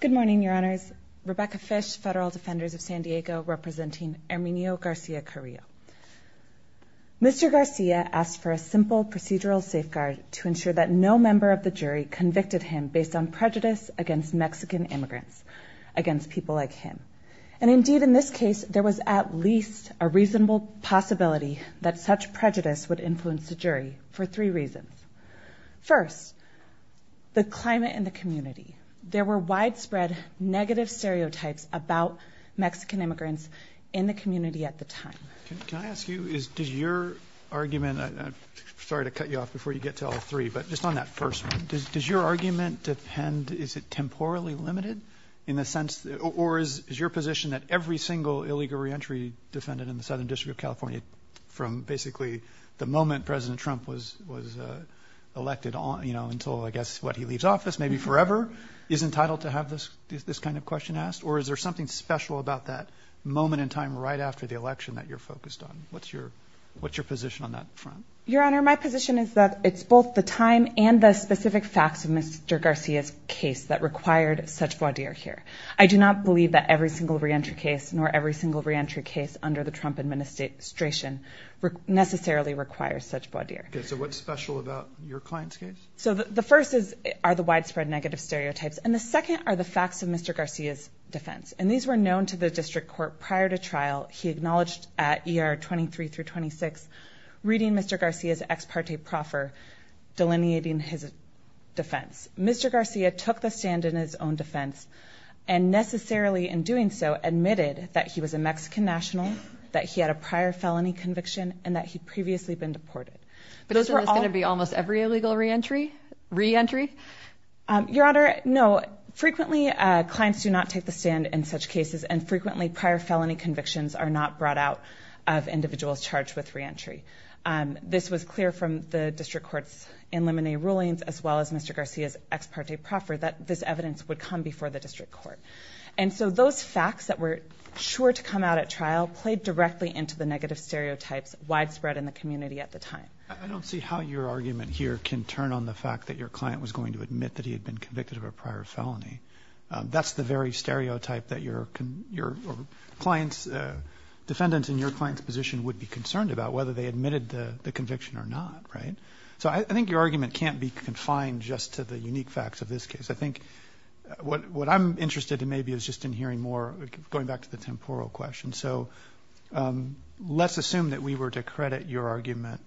Good morning, Your Honors. Rebecca Fish, Federal Defenders of San Diego, representing Herminio Garcia-Carillo. Mr. Garcia asked for a simple procedural safeguard to ensure that no member of the jury convicted him based on prejudice against Mexican immigrants, against people like him. And indeed, in this case, there was at least a reasonable possibility that such prejudice would influence the jury for three reasons. First, the climate in the community. There were widespread negative stereotypes about Mexican immigrants in the community at the time. Can I ask you, does your argument, sorry to cut you off before you get to all three, but just on that first one, does your argument depend, is it temporally limited in the sense, or is your position that every single illegal reentry defendant in the Southern District of California, from basically the moment President Trump was elected on, until I guess what, he leaves office, maybe forever, is entitled to have this kind of question asked? Or is there something special about that moment in time right after the election that you're focused on? What's your position on that front? Your Honor, my position is that it's both the time and the specific facts of Mr. Garcia's case that required such voir dire here. I do not believe that every single reentry case, nor every single reentry case under the Trump administration, necessarily requires such voir dire. Okay, so what's special about your client's case? So the first is, are the widespread negative stereotypes. And the second are the facts of Mr. Garcia's defense. And these were known to the district court prior to trial. He acknowledged at ER 23 through 26, reading Mr. Garcia's ex parte proffer, delineating his defense. Mr. Garcia took the stand in his own defense, and necessarily in doing so, admitted that he was a Mexican national, that he had a prior felony conviction, and that he'd previously been deported. But isn't this going to be almost every illegal reentry? Your Honor, no. Frequently, clients do not take the stand in such cases, and frequently prior felony convictions are not brought out of individuals charged with reentry. This was clear from the district court's in limine rulings, as well as Mr. Garcia's ex parte proffer, that this evidence would come before the district court. And so those facts that were sure to come out at trial, played directly into the negative stereotypes widespread in the community at the time. I don't see how your argument here can turn on the fact that your client was going to admit that he had been convicted of a prior felony. That's the very stereotype that your client's defendants in your client's position would be concerned about, whether they admitted the conviction or not, right? So I think your argument can't be confined just to the unique facts of this case. I think what I'm interested in maybe is just in hearing more, going back to the temporal question. So let's assume that we were to credit your argument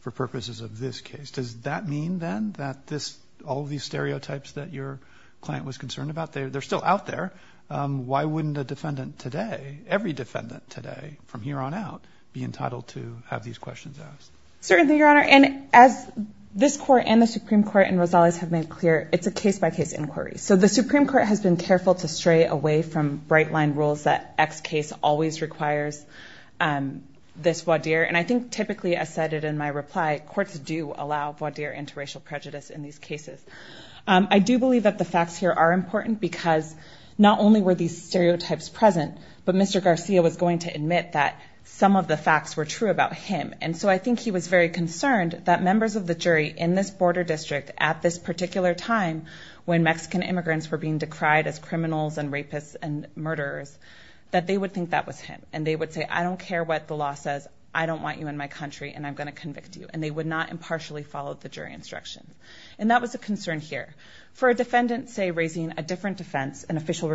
for purposes of this case. Does that mean then that all of these stereotypes that your client was concerned about, they're still out there. Why wouldn't a defendant today, every defendant today, from here on out, be concerned about those? Certainly, Your Honor. And as this court and the Supreme Court and Rosales have made clear, it's a case-by-case inquiry. So the Supreme Court has been careful to stray away from bright-line rules that X case always requires this voir dire. And I think typically, as cited in my reply, courts do allow voir dire interracial prejudice in these cases. I do believe that the facts here are important because not only were these stereotypes present, but Mr. Garcia was going to admit that some of the facts were true about him. And so I think he was very concerned that members of the jury in this border district at this particular time when Mexican immigrants were being decried as criminals and rapists and murderers, that they would think that was him. And they would say, I don't care what the law says. I don't want you in my country, and I'm going to convict you. And they would not impartially follow the jury instruction. And that was a concern here. For a defendant, say, raising a different defense, an official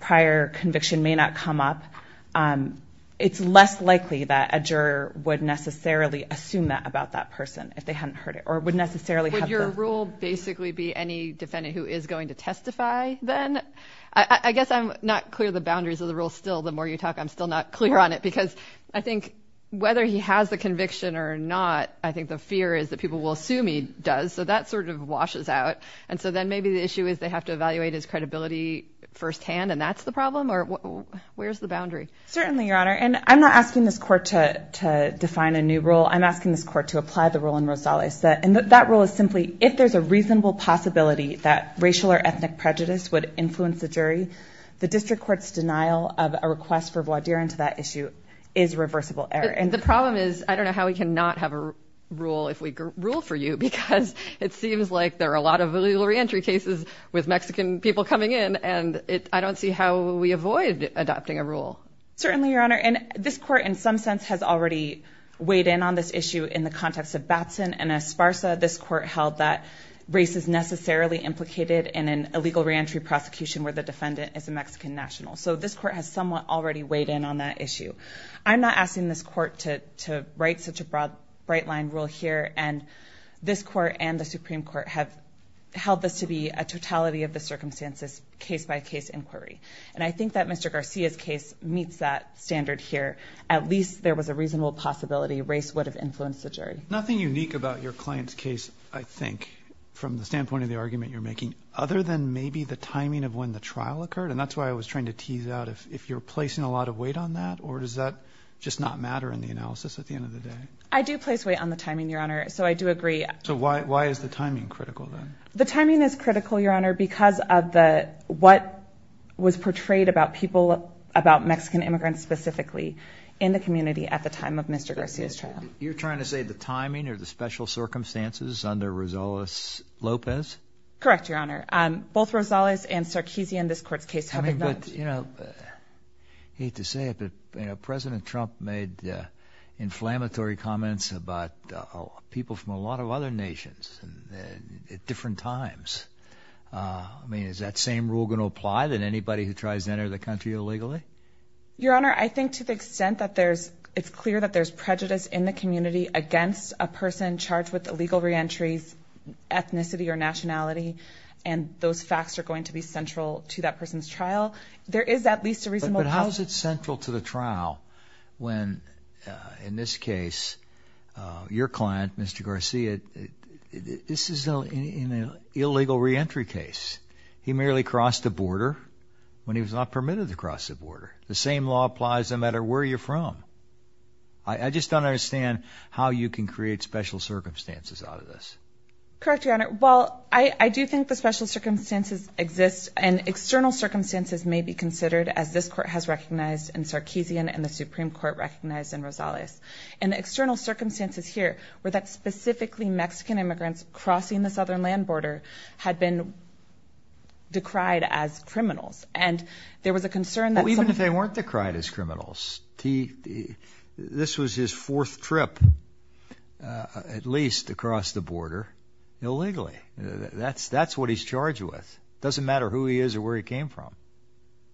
prior conviction may not come up. It's less likely that a juror would necessarily assume that about that person if they hadn't heard it, or would necessarily have the... Would your rule basically be any defendant who is going to testify then? I guess I'm not clear the boundaries of the rule still. The more you talk, I'm still not clear on it because I think whether he has the conviction or not, I think the fear is that people will assume he does. So that sort of washes out. And so then maybe the issue is they have to deal with the problem, or where's the boundary? Certainly, Your Honor. And I'm not asking this court to define a new rule. I'm asking this court to apply the rule in Rosales. And that rule is simply, if there's a reasonable possibility that racial or ethnic prejudice would influence the jury, the district court's denial of a request for voir dire into that issue is reversible error. And the problem is, I don't know how we cannot have a rule if we rule for you, because it seems like there are a lot of legal reentry cases with Mexican people coming in, and I don't see how we avoid adopting a rule. Certainly, Your Honor. And this court, in some sense, has already weighed in on this issue in the context of Batson and Esparza. This court held that race is necessarily implicated in an illegal reentry prosecution where the defendant is a Mexican national. So this court has somewhat already weighed in on that issue. I'm not asking this court to write such a bright-line rule here. And this court and the Supreme Court have held this to be a totality of the circumstances, case-by-case inquiry. And I think that Mr. Garcia's case meets that standard here. At least there was a reasonable possibility race would have influenced the jury. Nothing unique about your client's case, I think, from the standpoint of the argument you're making, other than maybe the timing of when the trial occurred? And that's why I was trying to tease out if you're placing a lot of weight on that, or does that just not matter in the analysis at the end of the day? I do place weight on the timing, Your Honor. So I do agree. So why is the timing critical, then? The timing is critical, Your Honor, because of what was portrayed about people, about Mexican immigrants specifically, in the community at the time of Mr. Garcia's trial. You're trying to say the timing or the special circumstances under Rosales Lopez? Correct, Your Honor. Both Rosales and Sarkeesian, this court's case, have been known. I mean, but, you know, I hate to say it, but President Trump made inflammatory comments about people from a lot of other nations at different times. I mean, is that same rule going to apply to anybody who tries to enter the country illegally? Your Honor, I think to the extent that it's clear that there's prejudice in the community against a person charged with illegal re-entries, ethnicity or nationality, and those facts are going to be central to that person's trial, there is at least a reasonable possibility. But how is it central to the trial when, in this case, your client, Mr. Garcia, this is an illegal re-entry case? He merely crossed the border when he was not permitted to cross the border. The same law applies no matter where you're from. I just don't understand how you can create special circumstances out of this. Correct, Your Honor. Well, I do think the special circumstances exist, and external circumstances may be considered, as this Court has recognized in Sarkeesian and the Supreme Court recognized in Rosales. And the external circumstances here were that specifically Mexican immigrants crossing the southern land border had been decried as criminals, and there was a concern that some... Well, even if they weren't decried as criminals, this was his fourth trip, at least, to cross the border illegally. That's what he's charged with. It doesn't matter who he is or where he came from.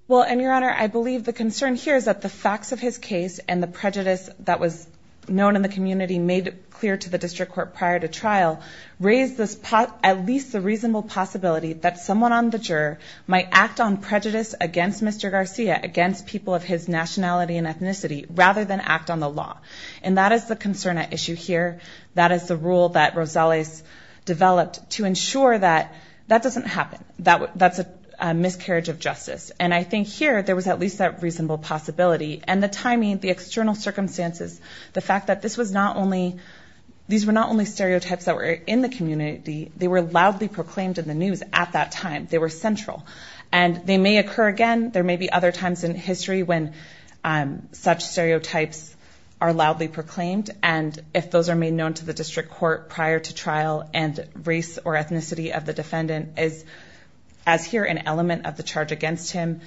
Well, and, Your Honor, I believe the concern here is that the facts of his case and the prejudice that was known in the community made clear to the District Court prior to trial raised at least the reasonable possibility that someone on the juror might act on prejudice against Mr. Garcia, against people of his nationality and ethnicity, rather than act on the law. And that is the concern at issue here. That is the rule that Rosales developed to ensure that that doesn't happen, that that's a miscarriage of justice. And I think here there was at least that reasonable possibility. And the timing, the external circumstances, the fact that this was not only... These were not only stereotypes that were in the community, they were loudly proclaimed in the news at that time. They were central. And they may occur again. There may be other times in history when such stereotypes are loudly proclaimed, and if those are made known to the District Court prior to trial, and race or ethnicity of the defendant is, as here, an element of the charge against him,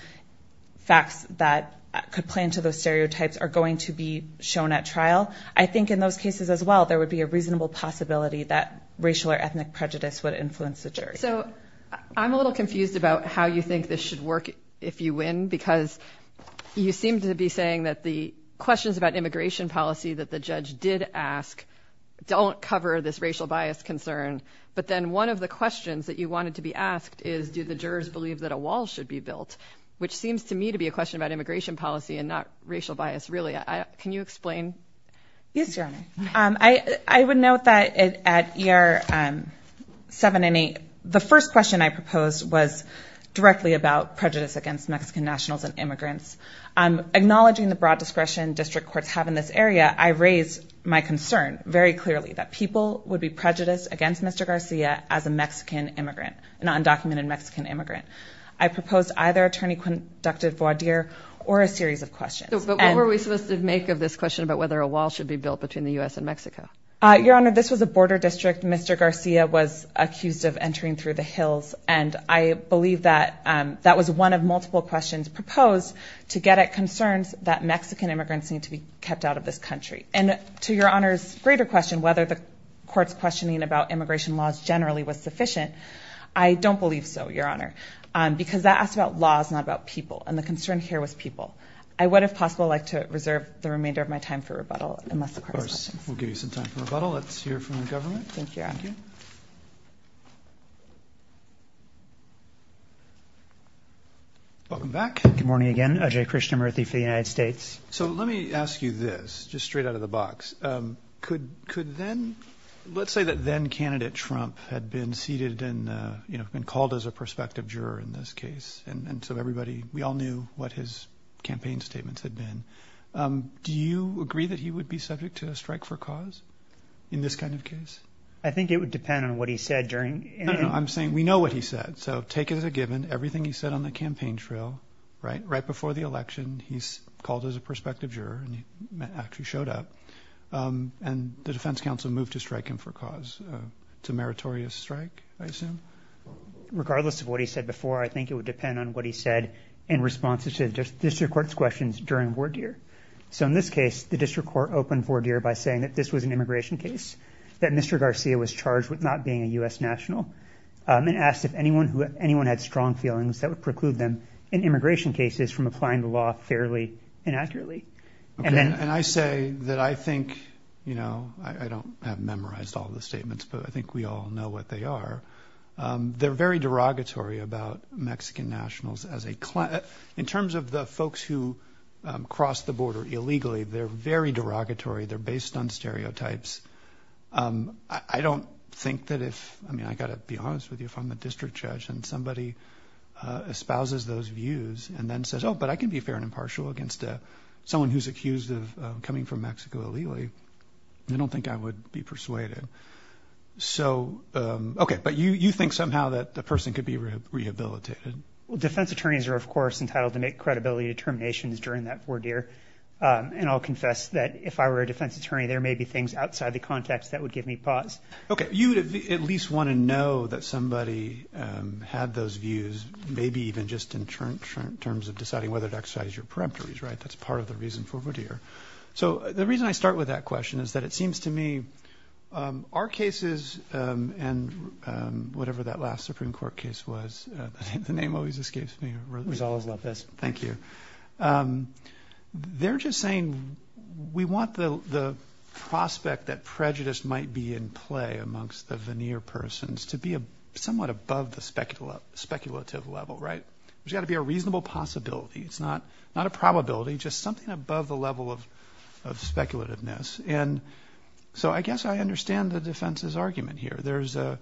facts that could play into those stereotypes are going to be shown at trial. I think in those cases as well, there would be a reasonable possibility that racial or ethnic prejudice would influence the jury. So I'm a little confused about how you think this should work, if you win, because you did ask, don't cover this racial bias concern. But then one of the questions that you wanted to be asked is, do the jurors believe that a wall should be built? Which seems to me to be a question about immigration policy and not racial bias, really. Can you explain? Yes, Your Honor. I would note that at ER 7 and 8, the first question I proposed was directly about prejudice against Mexican nationals and immigrants. Acknowledging the broad discretion District Courts have in this area, I raised my concern very clearly that people would be prejudiced against Mr. Garcia as a Mexican immigrant, an undocumented Mexican immigrant. I proposed either Attorney Conductive Voidier or a series of questions. But what were we supposed to make of this question about whether a wall should be built between the U.S. and Mexico? Your Honor, this was a border district. Mr. Garcia was accused of entering through the hills, and I believe that that was one of multiple questions proposed to get at concerns that Mexican immigrants need to be kept out of this country. And to Your Honor's greater question, whether the Court's questioning about immigration laws generally was sufficient, I don't believe so, Your Honor. Because that asked about laws, not about people. And the concern here was people. I would, if possible, like to reserve the remainder of my time for rebuttal unless the Court has other questions. Of course. We'll give you some time for rebuttal. Let's hear from the government. Thank you, Your Honor. Thank you. Welcome back. Good morning again. O.J. Krishnamoorthy for the United States. So let me ask you this, just straight out of the box. Could then, let's say that then candidate Trump had been seated and, you know, been called as a prospective juror in this case. And so everybody, we all knew what his campaign statements had been. Do you agree that he would be subject to a strike for cause in this kind of case? I think it would depend on what he said during... No, no. I'm saying we know what he said. So take it as a given, everything he said on the campaign trail, right? Right before the election, he's called as a prospective juror and he actually showed up. And the defense counsel moved to strike him for cause. It's a meritorious strike, I assume. Regardless of what he said before, I think it would depend on what he said in response to the district court's questions during Vordir. So in this case, the district court opened Vordir by saying that this was an immigration case, that Mr. Garcia was charged with not being a U.S. national and asked if anyone had strong feelings that would preclude them in immigration cases from applying the law fairly and accurately. And I say that I think, you know, I don't have memorized all the statements, but I think we all know what they are. They're very derogatory about Mexican nationals as a... In terms of the folks who crossed the border illegally, they're very derogatory. They're based on if, I mean, I got to be honest with you, if I'm a district judge and somebody espouses those views and then says, oh, but I can be fair and impartial against someone who's accused of coming from Mexico illegally, I don't think I would be persuaded. So, OK, but you think somehow that the person could be rehabilitated. Well, defense attorneys are, of course, entitled to make credibility determinations during that Vordir. And I'll confess that if I were a defense attorney, there may be things outside the context that would give me pause. OK, you would at least want to know that somebody had those views, maybe even just in terms of deciding whether to exercise your peremptories. Right. That's part of the reason for Vordir. So the reason I start with that question is that it seems to me our cases and whatever that last Supreme Court case was, the name always escapes me, Rosales-Lopez. Thank you. They're just saying we want the prospect that prejudice might be in play amongst the veneer persons to be somewhat above the speculative level. Right. There's got to be a reasonable possibility. It's not not a probability, just something above the level of of speculativeness. And so I guess I understand the defense's argument here. There's a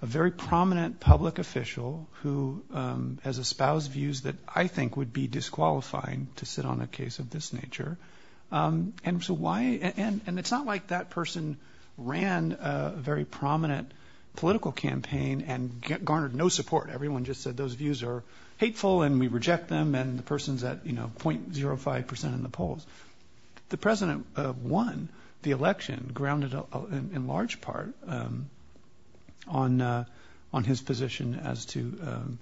very prominent public official who has espoused views that I think would be disqualifying to sit on a case of this nature. And so why? And it's not like that person ran a very prominent political campaign and garnered no support. Everyone just said those views are hateful and we reject them. And the person's at, you know, point zero five percent in the polls. The president won the election, grounded in large part on on his position as to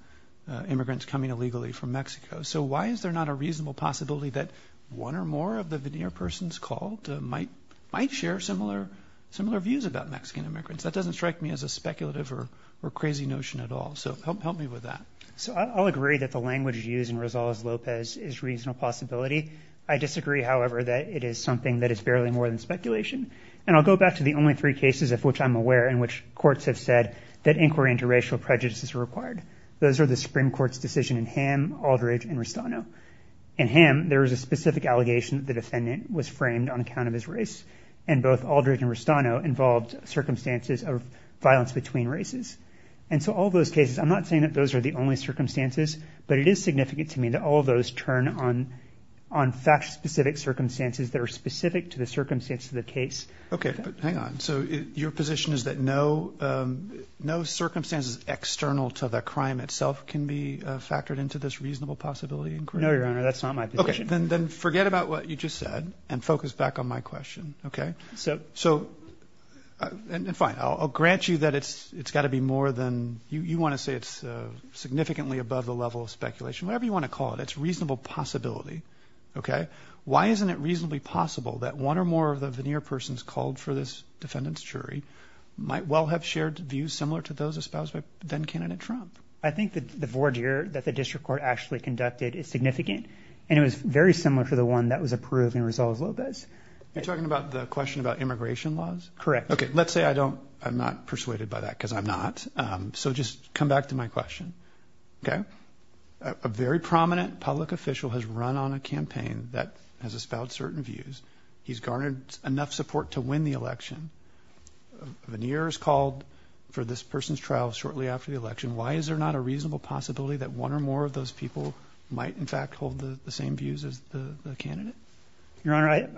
immigrants coming illegally from Mexico. So why is there not a reasonable possibility that one or more of the veneer persons called might might share similar similar views about Mexican immigrants? That doesn't strike me as a speculative or crazy notion at all. So help me with that. So I'll agree that the language used in Rosales-Lopez is reasonable possibility. I disagree, however, that it is something that is barely more than speculation. And I'll go back to the only three cases of which I'm aware in which courts have said that inquiry into racial prejudices are required. Those are the Supreme Court's decision in Ham, Aldridge and Rustano. In Ham, there is a specific allegation that the defendant was framed on account of his race and both Aldridge and Rustano involved circumstances of violence between races. And so all those cases, I'm not saying that those are the only circumstances, but it is significant to me that all those turn on on facts, specific circumstances that are specific to the circumstance of the case. OK, but hang on. So your position is that no, no circumstances external to the crime itself can be factored into this reasonable possibility. No, Your Honor, that's not my position. Then forget about what you just said and focus back on my question. OK, so so I'll grant you that it's it's got to be more than you want to say. It's significantly above the level of speculation, whatever you want to call it. It's reasonable possibility. OK, why isn't it reasonably possible that one or more of the veneer persons called for this defendant's jury might well have shared views similar to those espoused by then candidate Trump? I think that the voir dire that the district court actually conducted is significant and it was very similar to the one that was approved in Resolves Lopez. You're talking about the question about immigration laws? Correct. OK, let's say I don't I'm not persuaded by that because I'm not. So just come back to my question. OK, a very prominent public official has run on a campaign that has espoused certain views. He's garnered enough support to win the election. Veneers called for this person's trial shortly after the election. Why is there not a reasonable possibility that one or more of those people might in fact hold the same views as the candidate? Your Honor,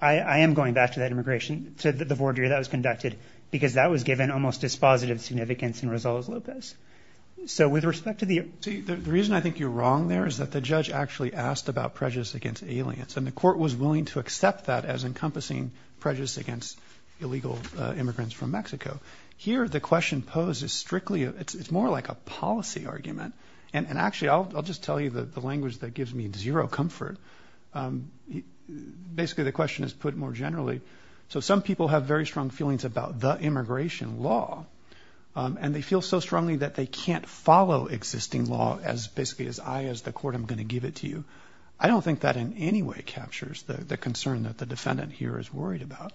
I am going back to that immigration was conducted because that was given almost dispositive significance in Resolves Lopez. So with respect to the reason I think you're wrong there is that the judge actually asked about prejudice against aliens and the court was willing to accept that as encompassing prejudice against illegal immigrants from Mexico. Here, the question poses strictly. It's more like a policy argument. And actually, I'll just tell you the language that gives me zero comfort. Basically, the question is put more generally. So some people have very strong feelings about the immigration law and they feel so strongly that they can't follow existing law as basically as I as the court. I'm going to give it to you. I don't think that in any way captures the concern that the defendant here is worried about.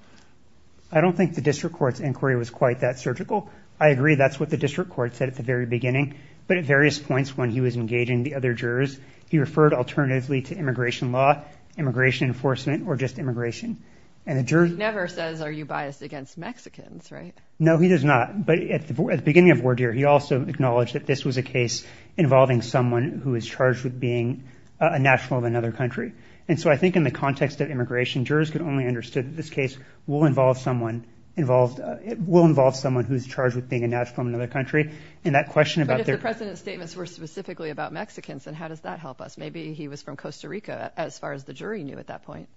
I don't think the district court's inquiry was quite that surgical. I agree. That's what the district court said at the very beginning. But at various points when he was engaging the other jurors, he referred alternatively to immigration law, immigration enforcement, or just immigration. And the jury never says, are you biased against Mexicans, right? No, he does not. But at the beginning of word here, he also acknowledged that this was a case involving someone who is charged with being a national of another country. And so I think in the context of immigration, jurors could only understood this case will involve someone involved. It will involve someone who's charged with being a national of another country. And that question about their president's statements were specifically about Mexicans. And how does that help us? Maybe he was from Costa Rica as far as the jury knew at that point.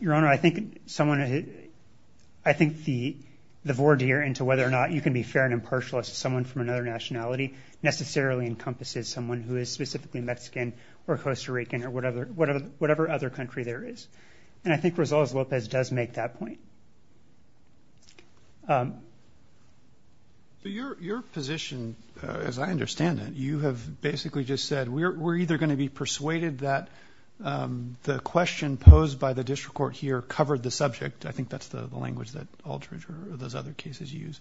Your Honor, I think someone, I think the, the voir dire into whether or not you can be fair and impartial as someone from another nationality necessarily encompasses someone who is specifically Mexican or Costa Rican or whatever, whatever, whatever other country there is. And I think results, Lopez does make that point. Um, but your, your position, as I understand it, you have basically just said, we're, we're either going to be persuaded that, um, the question posed by the district court here covered the subject. I think that's the language that alterage or those other cases use.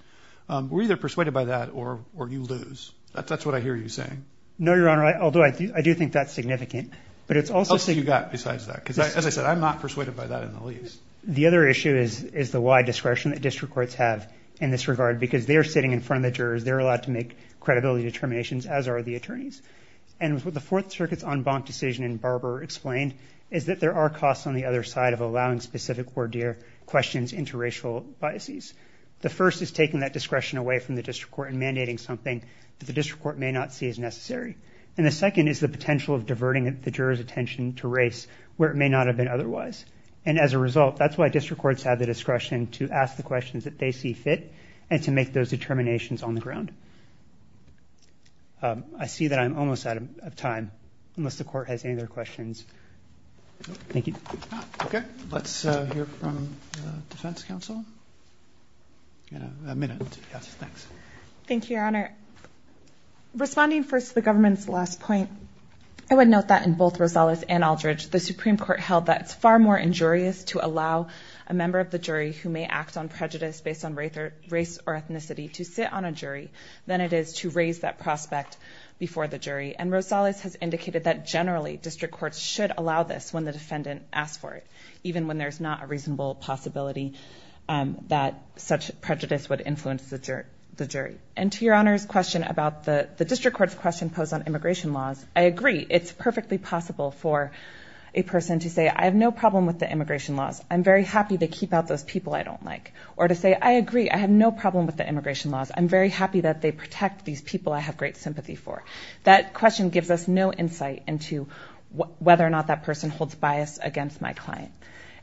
Um, we're either persuaded by that or, or you lose. That's, that's what I hear you saying. No, Your Honor. I, although I do, I do think that's significant, but it's also say you got besides that, because as I said, I'm not persuaded by that in the least. The other discretion that district courts have in this regard, because they're sitting in front of the jurors, they're allowed to make credibility determinations as are the attorneys. And with the fourth circuits on bonk decision and Barbara explained is that there are costs on the other side of allowing specific voir dire questions, interracial biases. The first is taking that discretion away from the district court and mandating something that the district court may not see as necessary. And the second is the potential of diverting the jurors attention to race where it may not have been otherwise. And as a result, that's why district courts have the discretion to ask the questions that they see fit and to make those determinations on the ground. Um, I see that I'm almost out of time unless the court has any other questions. Thank you. Okay. Let's hear from the defense council, you know, a minute. Yes. Thanks. Thank you, Your Honor. Responding first to the government's last point, I would note that in both Rosales and Aldridge, the Supreme Court held that it's far more injurious to allow a member of the jury who may act on prejudice based on race or race or ethnicity to sit on a jury than it is to raise that prospect before the jury. And Rosales has indicated that generally district courts should allow this when the defendant asked for it, even when there's not a reasonable possibility, um, that such prejudice would influence the jerk, the jury. And to your honor's question about the district court's question posed on immigration laws. I agree. It's perfectly possible for a person to say, I have no problem with the immigration laws. I'm very happy to keep out those people I don't like. Or to say, I agree. I have no problem with the immigration laws. I'm very happy that they protect these people I have great sympathy for. That question gives us no insight into whether or not that person holds bias against my client.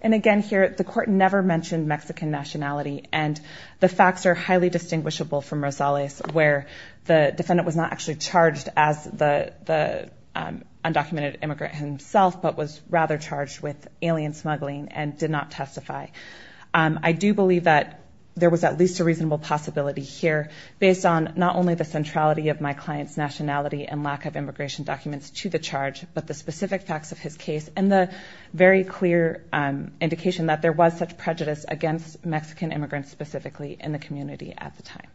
And again, here at the court never mentioned Mexican nationality and the facts are highly distinguishable from Rosales where the defendant was not actually charged as the, the, um, undocumented immigrant himself, but was rather charged with alien smuggling and did not testify. Um, I do believe that there was at least a reasonable possibility here based on not only the centrality of my client's nationality and lack of immigration documents to the charge, but the specific facts of his case and the very clear, um, indication that there was such prejudice against Mexican immigrants specifically in the community at the time.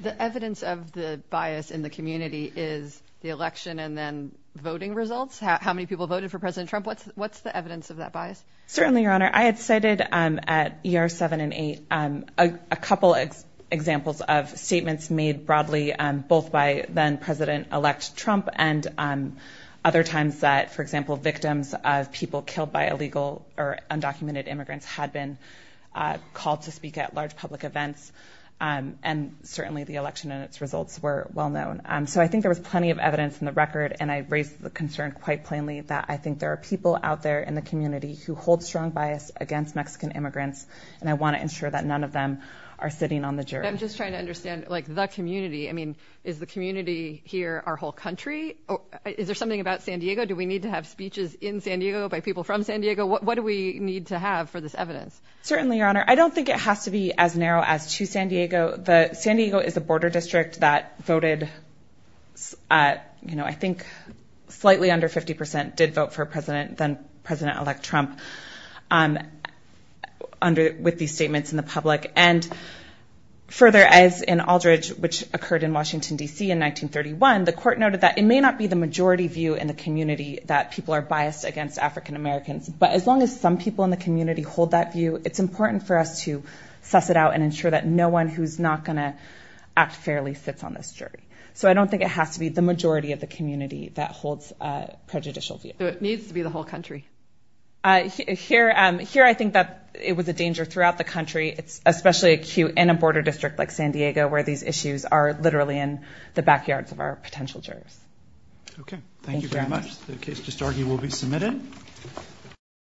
The evidence of the bias in the community is the election and then voting results. How many people voted for president Trump? What's, what's the evidence of that bias? Certainly, your honor. I had cited, um, at year seven and eight, um, a couple of examples of statements made broadly, um, both by then president elect Trump and, um, other times that for example, victims of people killed by illegal or undocumented immigrants had been, uh, called to speak at large public events. Um, and certainly the election and its results were well known. Um, so I think there was plenty of evidence in the record and I raised the concern quite plainly that I think there are people out there in the community who hold strong bias against Mexican immigrants and I want to ensure that none of them are sitting on the jury. I'm just trying to understand like the community. I mean, is the community here our whole country or is there something about San Diego? Do we need to have speeches in San Diego by people from San Diego? What do we need to have for this evidence? Certainly, your honor. I don't think it has to be as narrow as to San Diego. The San Diego is a border district that voted, uh, you know, I think slightly under 50% did vote for president than president elect Trump. Um, under with these statements in the public and further as in Aldridge, which occurred in Washington DC in 1931, the court noted that it may not be the majority view in the community that people are biased against African Americans, but as long as some people in the community hold that view, it's important for us to suss it out and ensure that no one who's not going to act fairly sits on this jury. So I don't think it has to be the majority of the community that holds a prejudicial view. It needs to be the whole country. Uh, here, um, here, I think that it was a danger throughout the country. It's especially acute in a border district like San Diego where these issues are literally in the backyards of our potential jurors. Okay. Thank you very much. The case just argued will be submitted.